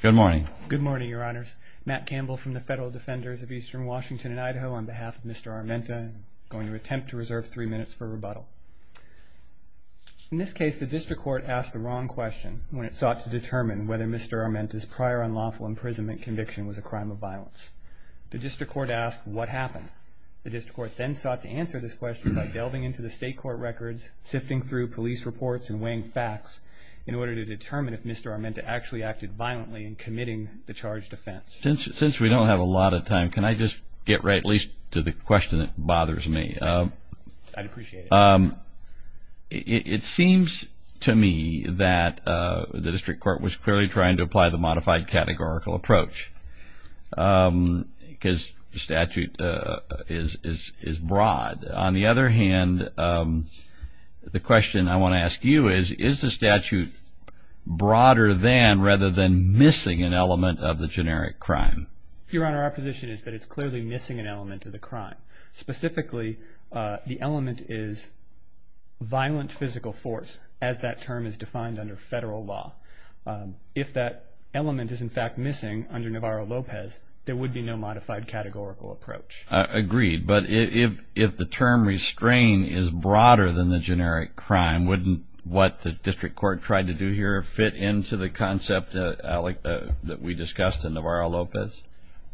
Good morning. Good morning, Your Honors. Matt Campbell from the Federal Defenders of Eastern Washington and Idaho on behalf of Mr. Armenta, going to attempt to reserve three minutes for rebuttal. In this case, the district court asked the wrong question when it sought to determine whether Mr. Armenta's prior unlawful imprisonment conviction was a crime of violence. The district court asked what happened. The district court then sought to answer this question by delving into the state court records, sifting through police reports and weighing facts in order to determine if Mr. Armenta actually acted violently in committing the charged offense. Since we don't have a lot of time, can I just get right at least to the question that bothers me? I'd appreciate it. It seems to me that the district court was clearly trying to apply the modified categorical approach because the statute is broad. On the other hand, the question I want to ask you is, is the statute broader than rather than missing an element of the generic crime? Your Honor, our position is that it's clearly missing an element of the crime. Specifically, the element is violent physical force as that term is defined under federal law. If that element is in fact missing under Navarro-Lopez, there would be no modified categorical approach. Agreed, but if the term restrain is broader than the generic crime, wouldn't what the district court tried to do here fit into the concept that we discussed in Navarro-Lopez?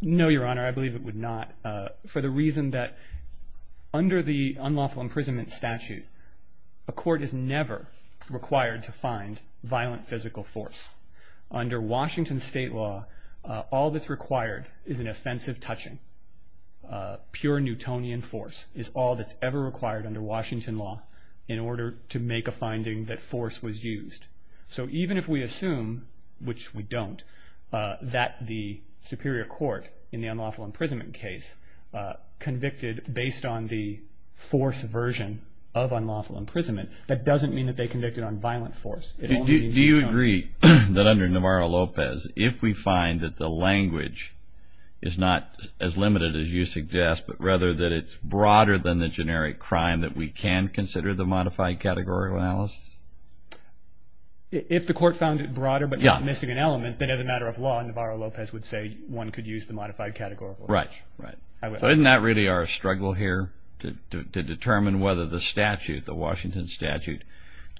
No, Your Honor, I believe it would not. For the reason that under the unlawful imprisonment statute, a court is never required to find violent physical force. Under Washington state law, all that's required is an offensive touching. Pure Newtonian force is all that's ever required under Washington law in order to make a finding that force was used. So even if we assume, which we don't, that the superior court in the unlawful imprisonment case convicted based on the force version of unlawful imprisonment, that doesn't mean that they convicted on violent force. Do you agree that under Navarro-Lopez, if we find that the language is not as limited as you suggest, but rather that it's broader than the generic crime, that we can consider the modified categorical analysis? If the court found it broader but not missing an element, then as a matter of law, Navarro-Lopez would say one could use the modified categorical analysis. Right, right. So isn't that really our struggle here to determine whether the statute, the Washington statute,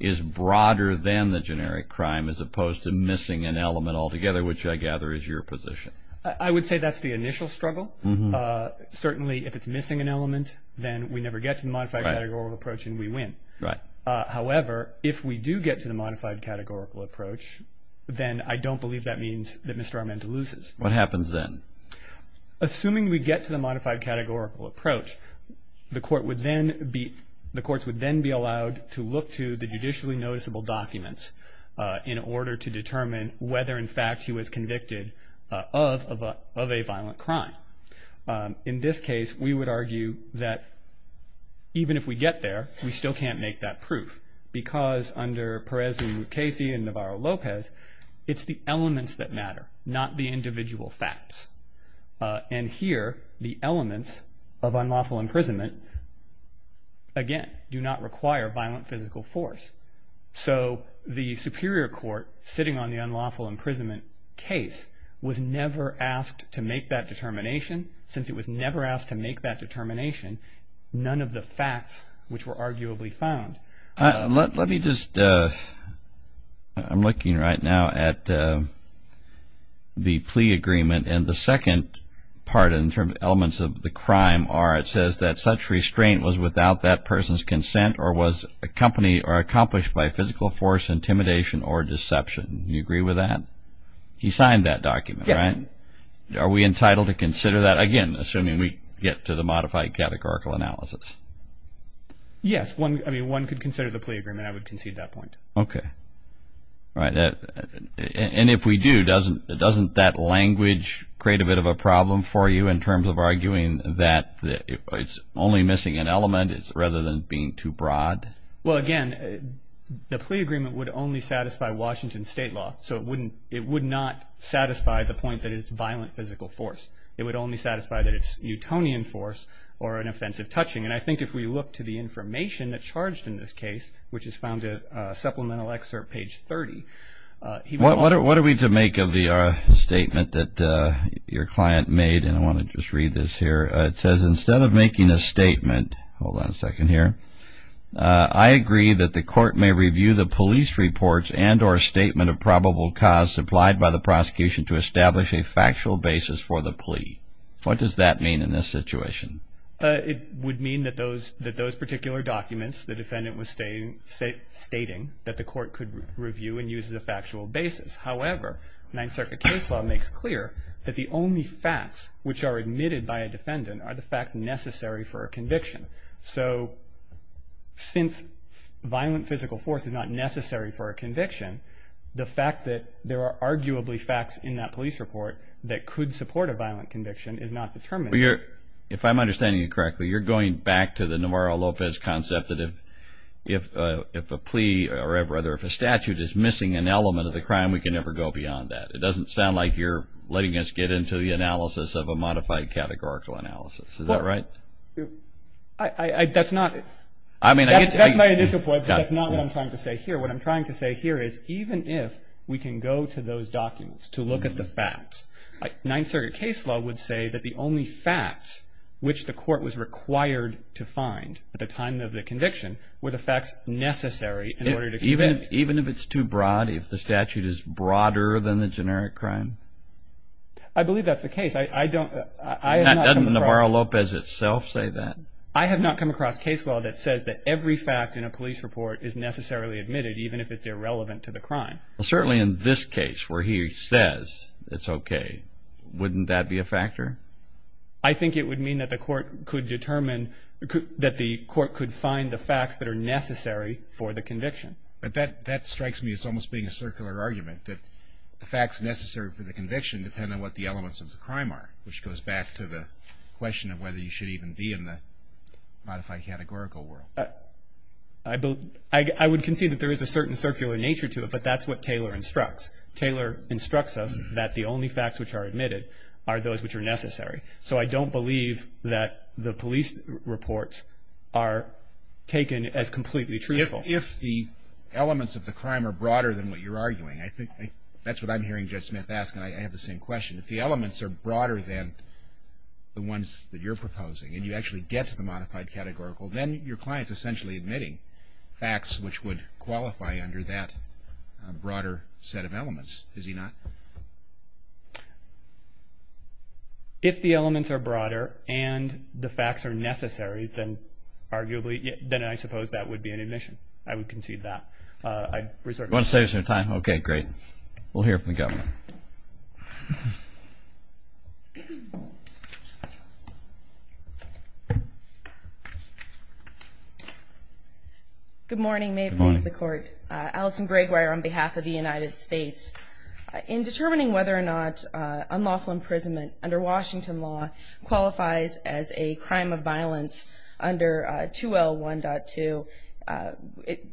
is broader than the generic crime as opposed to missing an element altogether, which I gather is your position? I would say that's the initial struggle. Certainly, if it's missing an element, then we never get to the modified categorical approach and we win. However, if we do get to the modified categorical approach, then I don't believe that means that Mr. Armando loses. What happens then? Assuming we get to the modified categorical approach, the courts would then be allowed to look to the judicially noticeable documents in order to determine whether, in fact, he was convicted of a violent crime. In this case, we would argue that even if we get there, we still can't make that proof because under Perez and Mukasey and Navarro-Lopez, it's the elements that matter, not the individual facts. And here, the elements of unlawful imprisonment, again, do not require violent physical force. So the superior court sitting on the unlawful imprisonment case was never asked to make that determination. Since it was never asked to make that determination, none of the facts which were arguably found. Let me just – I'm looking right now at the plea agreement. And the second part in terms of elements of the crime are, it says that such restraint was without that person's consent or was accompanied or accomplished by physical force, intimidation, or deception. Do you agree with that? He signed that document, right? Yes. And are we entitled to consider that? Again, assuming we get to the modified categorical analysis. Yes. I mean, one could consider the plea agreement. I would concede that point. Okay. All right. And if we do, doesn't that language create a bit of a problem for you in terms of arguing that it's only missing an element rather than being too broad? Well, again, the plea agreement would only satisfy Washington state law. So it would not satisfy the point that it's violent physical force. It would only satisfy that it's Newtonian force or an offensive touching. And I think if we look to the information that's charged in this case, which is found in a supplemental excerpt, page 30. What are we to make of the statement that your client made? And I want to just read this here. It says, instead of making a statement, hold on a second here, I agree that the court may review the police reports and or statement of probable cause supplied by the prosecution to establish a factual basis for the plea. What does that mean in this situation? It would mean that those particular documents the defendant was stating that the court could review and use as a factual basis. However, Ninth Circuit case law makes clear that the only facts which are admitted by a defendant are the facts necessary for a conviction. So since violent physical force is not necessary for a conviction, the fact that there are arguably facts in that police report that could support a violent conviction is not determined. If I'm understanding you correctly, you're going back to the Navarro-Lopez concept that if a plea or rather if a statute is missing an element of the crime, we can never go beyond that. It doesn't sound like you're letting us get into the analysis of a modified categorical analysis. Is that right? That's my initial point, but that's not what I'm trying to say here. What I'm trying to say here is even if we can go to those documents to look at the facts, Ninth Circuit case law would say that the only facts which the court was required to find at the time of the conviction were the facts necessary in order to convict. Even if it's too broad, if the statute is broader than the generic crime? I believe that's the case. Doesn't Navarro-Lopez itself say that? I have not come across case law that says that every fact in a police report is necessarily admitted even if it's irrelevant to the crime. Certainly in this case where he says it's okay, wouldn't that be a factor? I think it would mean that the court could determine that the court could find the facts that are necessary for the conviction. That strikes me as almost being a circular argument that the facts necessary for the conviction depend on what the elements of the crime are, which goes back to the question of whether you should even be in the modified categorical world. I would concede that there is a certain circular nature to it, but that's what Taylor instructs. Taylor instructs us that the only facts which are admitted are those which are necessary. So I don't believe that the police reports are taken as completely truthful. If the elements of the crime are broader than what you're arguing, I think that's what I'm hearing Judge Smith ask, and I have the same question. If the elements are broader than the ones that you're proposing and you actually get to the modified categorical, then your client's essentially admitting facts which would qualify under that broader set of elements, is he not? If the elements are broader and the facts are necessary, then I suppose that would be an admission. I would concede that. Do you want to say something? Okay, great. We'll hear from the government. Good morning. May it please the Court. Alison Gregoire on behalf of the United States. In determining whether or not unlawful imprisonment under Washington law qualifies as a crime of violence under 2L1.2,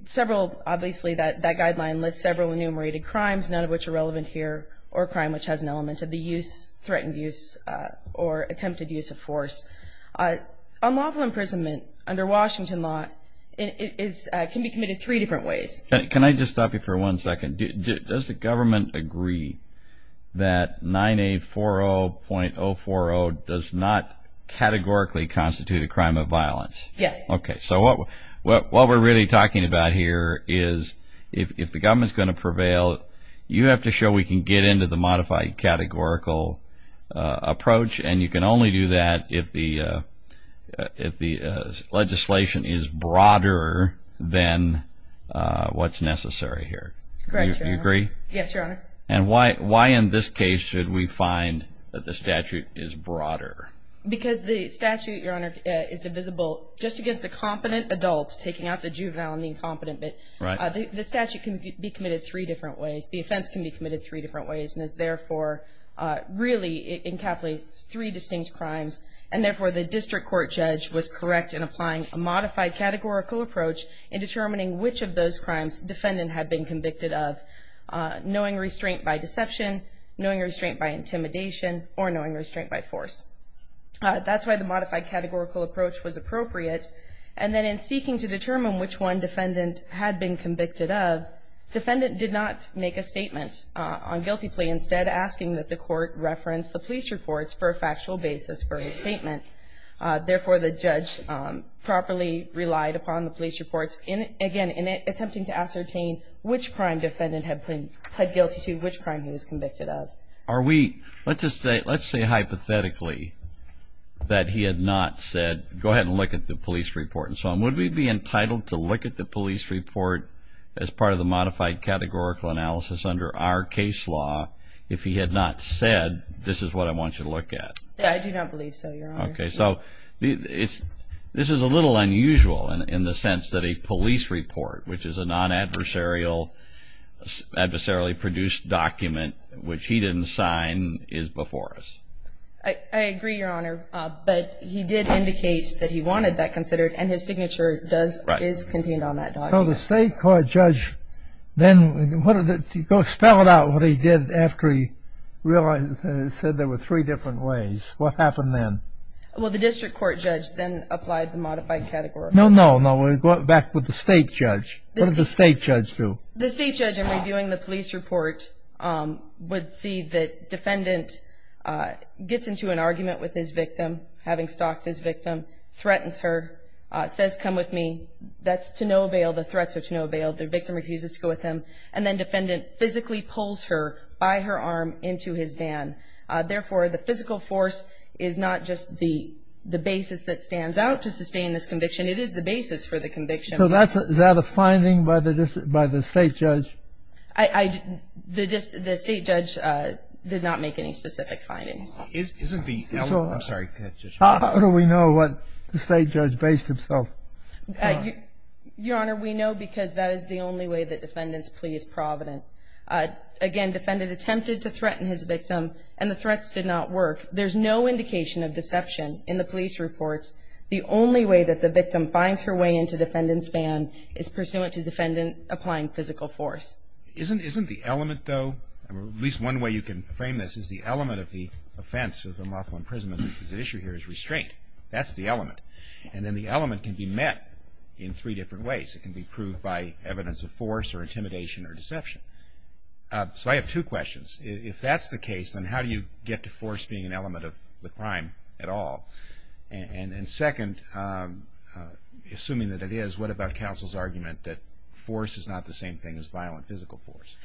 several, obviously that guideline lists several enumerated crimes, none of which are relevant here, or a crime which has an element of the use, threatened use, or attempted use of force. Unlawful imprisonment under Washington law can be committed three different ways. Can I just stop you for one second? Does the government agree that 9A40.040 does not categorically constitute a crime of violence? Yes. Okay. So what we're really talking about here is if the government is going to prevail, you have to show we can get into the modified categorical approach, and you can only do that if the legislation is broader than what's necessary here. Correct, Your Honor. Do you agree? Yes, Your Honor. And why in this case should we find that the statute is broader? Because the statute, Your Honor, is divisible just against a competent adult, taking out the juvenile and the incompetent. The statute can be committed three different ways. The offense can be committed three different ways, and is therefore really encapsulates three distinct crimes, and therefore the district court judge was correct in applying a modified categorical approach in determining which of those crimes defendant had been convicted of, knowing restraint by deception, knowing restraint by intimidation, or knowing restraint by force. That's why the modified categorical approach was appropriate. And then in seeking to determine which one defendant had been convicted of, defendant did not make a statement on guilty plea, instead asking that the court reference the police reports for a factual basis for his statement. Therefore, the judge properly relied upon the police reports, again, in attempting to ascertain which crime defendant had pled guilty to, which crime he was convicted of. Let's say hypothetically that he had not said, go ahead and look at the police report and so on. Would we be entitled to look at the police report as part of the modified categorical analysis under our case law if he had not said, this is what I want you to look at? Yeah, I do not believe so, Your Honor. Okay, so this is a little unusual in the sense that a police report, which is a non-adversarially produced document, which he didn't sign, is before us. I agree, Your Honor, but he did indicate that he wanted that considered, and his signature is contained on that document. So the state court judge then, spell it out what he did after he said there were three different ways. What happened then? Well, the district court judge then applied the modified categorical analysis. No, no, no, go back with the state judge. What did the state judge do? The state judge, in reviewing the police report, would see that defendant gets into an argument with his victim, having stalked his victim, threatens her, says, come with me. That's to no avail. The threats are to no avail. The victim refuses to go with him. And then defendant physically pulls her by her arm into his van. Therefore, the physical force is not just the basis that stands out to sustain this conviction. It is the basis for the conviction. So is that a finding by the state judge? The state judge did not make any specific findings. I'm sorry. How do we know what the state judge based himself? Your Honor, we know because that is the only way that defendant's plea is provident. Again, defendant attempted to threaten his victim, and the threats did not work. There's no indication of deception in the police reports. The only way that the victim finds her way into defendant's van is pursuant to defendant applying physical force. Isn't the element, though, at least one way you can frame this is the element of the offense of the lawful imprisonment. The issue here is restraint. That's the element. And then the element can be met in three different ways. It can be proved by evidence of force or intimidation or deception. So I have two questions. If that's the case, then how do you get to force being an element of the crime at all? And second, assuming that it is, what about counsel's argument that force is not the same thing as violent physical force?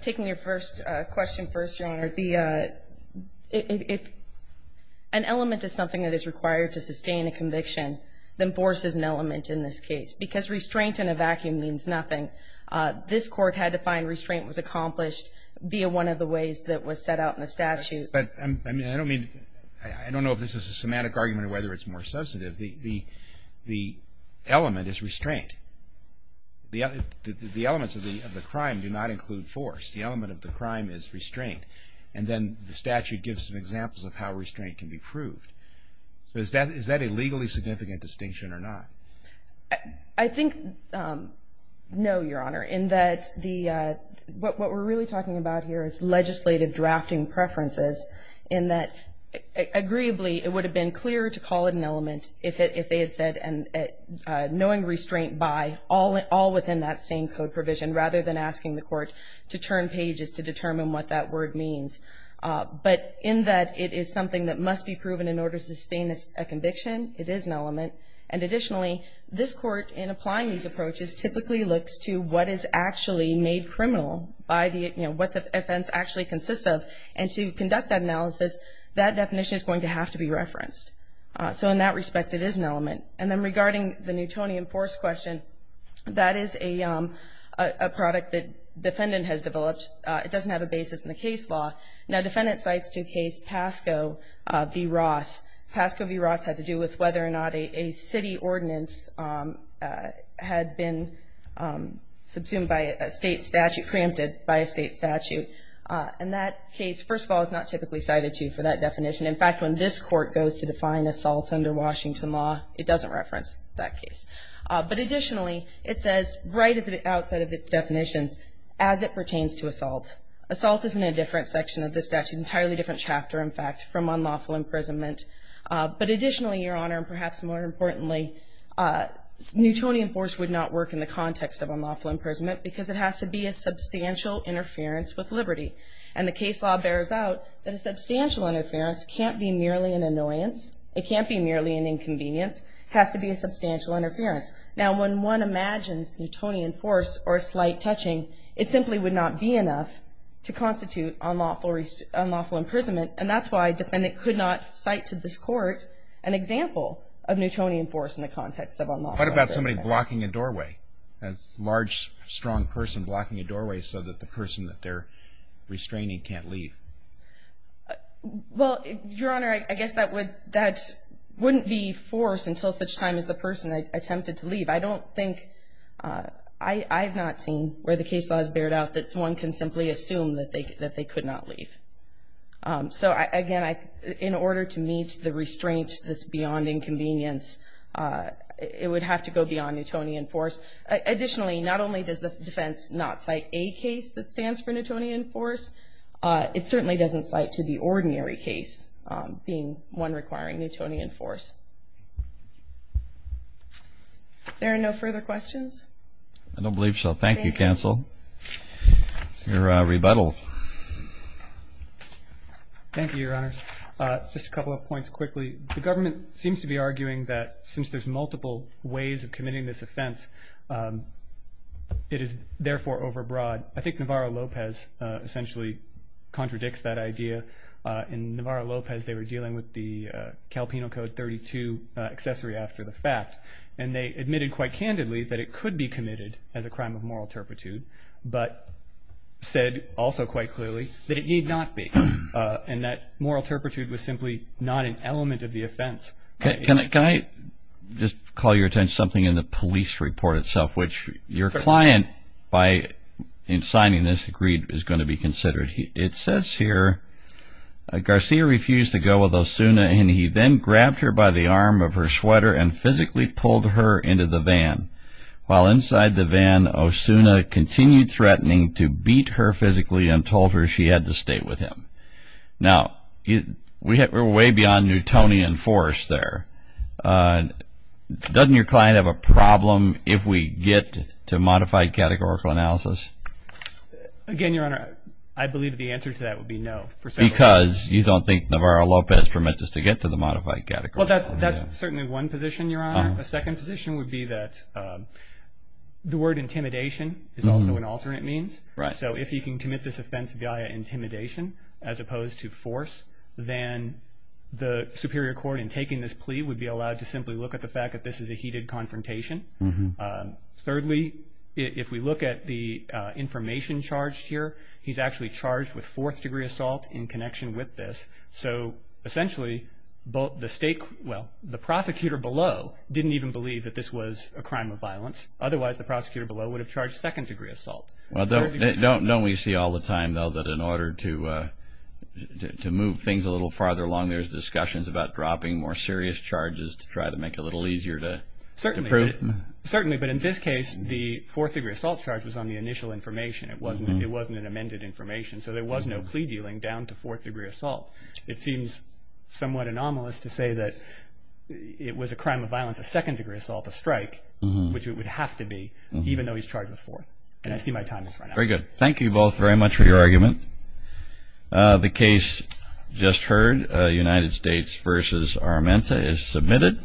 Taking your first question first, Your Honor, the – if an element is something that is required to sustain a conviction, then force is an element in this case. Because restraint in a vacuum means nothing. This Court had to find restraint was accomplished via one of the ways that was set out in the statute. But, I mean, I don't mean – I don't know if this is a semantic argument or whether it's more substantive. The element is restraint. The elements of the crime do not include force. The element of the crime is restraint. And then the statute gives some examples of how restraint can be proved. So is that a legally significant distinction or not? I think no, Your Honor, in that the – what we're really talking about here is legislative drafting preferences in that, agreeably, it would have been clearer to call it an element if they had said, knowing restraint by, all within that same code provision, rather than asking the court to turn pages to determine what that word means. But in that it is something that must be proven in order to sustain a conviction, it is an element. And additionally, this Court, in applying these approaches, typically looks to what is actually made criminal by the – you know, what the offense actually consists of. And to conduct that analysis, that definition is going to have to be referenced. So in that respect, it is an element. And then regarding the Newtonian force question, that is a product that defendant has developed. It doesn't have a basis in the case law. Now, defendant cites to case Pasco v. Ross. Pasco v. Ross had to do with whether or not a city ordinance had been subsumed by a state statute, preempted by a state statute. And that case, first of all, is not typically cited to for that definition. In fact, when this Court goes to define assault under Washington law, it doesn't reference that case. But additionally, it says, right outside of its definitions, as it pertains to assault. Assault is in a different section of the statute, entirely different chapter, in fact, from unlawful imprisonment. But additionally, Your Honor, and perhaps more importantly, Newtonian force would not work in the context of unlawful imprisonment because it has to be a substantial interference with liberty. And the case law bears out that a substantial interference can't be merely an annoyance. It can't be merely an inconvenience. It has to be a substantial interference. Now, when one imagines Newtonian force or slight touching, it simply would not be enough to constitute unlawful imprisonment. And that's why a defendant could not cite to this Court an example of Newtonian force in the context of unlawful imprisonment. What about somebody blocking a doorway? A large, strong person blocking a doorway so that the person that they're restraining can't leave? Well, Your Honor, I guess that wouldn't be force until such time as the person attempted to leave. I don't think I've not seen where the case law has bared out that someone can simply assume that they could not leave. So, again, in order to meet the restraint that's beyond inconvenience, it would have to go beyond Newtonian force. Additionally, not only does the defense not cite a case that stands for Newtonian force, it certainly doesn't cite to the ordinary case being one requiring Newtonian force. There are no further questions? I don't believe so. Thank you, counsel. Your rebuttal. Thank you, Your Honors. Just a couple of points quickly. The government seems to be arguing that since there's multiple ways of committing this offense, it is therefore overbroad. I think Navarro-Lopez essentially contradicts that idea. In Navarro-Lopez, they were dealing with the Calpino Code 32 accessory after the fact, and they admitted quite candidly that it could be committed as a crime of moral turpitude, but said also quite clearly that it need not be, and that moral turpitude was simply not an element of the offense. Can I just call your attention to something in the police report itself, which your client, in signing this, agreed is going to be considered. It says here, Garcia refused to go with Osuna, and he then grabbed her by the arm of her sweater and physically pulled her into the van. While inside the van, Osuna continued threatening to beat her physically and told her she had to stay with him. Now, we're way beyond Newtonian force there. Doesn't your client have a problem if we get to modified categorical analysis? Again, Your Honor, I believe the answer to that would be no. Because you don't think Navarro-Lopez permits us to get to the modified categorical analysis. Well, that's certainly one position, Your Honor. A second position would be that the word intimidation is also an alternate means. So if he can commit this offense via intimidation as opposed to force, then the superior court in taking this plea would be allowed to simply look at the fact that this is a heated confrontation. Thirdly, if we look at the information charged here, he's actually charged with fourth-degree assault in connection with this. So essentially, the prosecutor below didn't even believe that this was a crime of violence. Otherwise, the prosecutor below would have charged second-degree assault. Don't we see all the time, though, that in order to move things a little farther along, there's discussions about dropping more serious charges to try to make it a little easier to prove? Certainly, but in this case, the fourth-degree assault charge was on the initial information. It wasn't an amended information. So there was no plea dealing down to fourth-degree assault. It seems somewhat anomalous to say that it was a crime of violence, a second-degree assault, a strike, which it would have to be, even though he's charged with fourth. And I see my time has run out. Very good. Thank you both very much for your argument. The case just heard, United States v. Armenta, is submitted.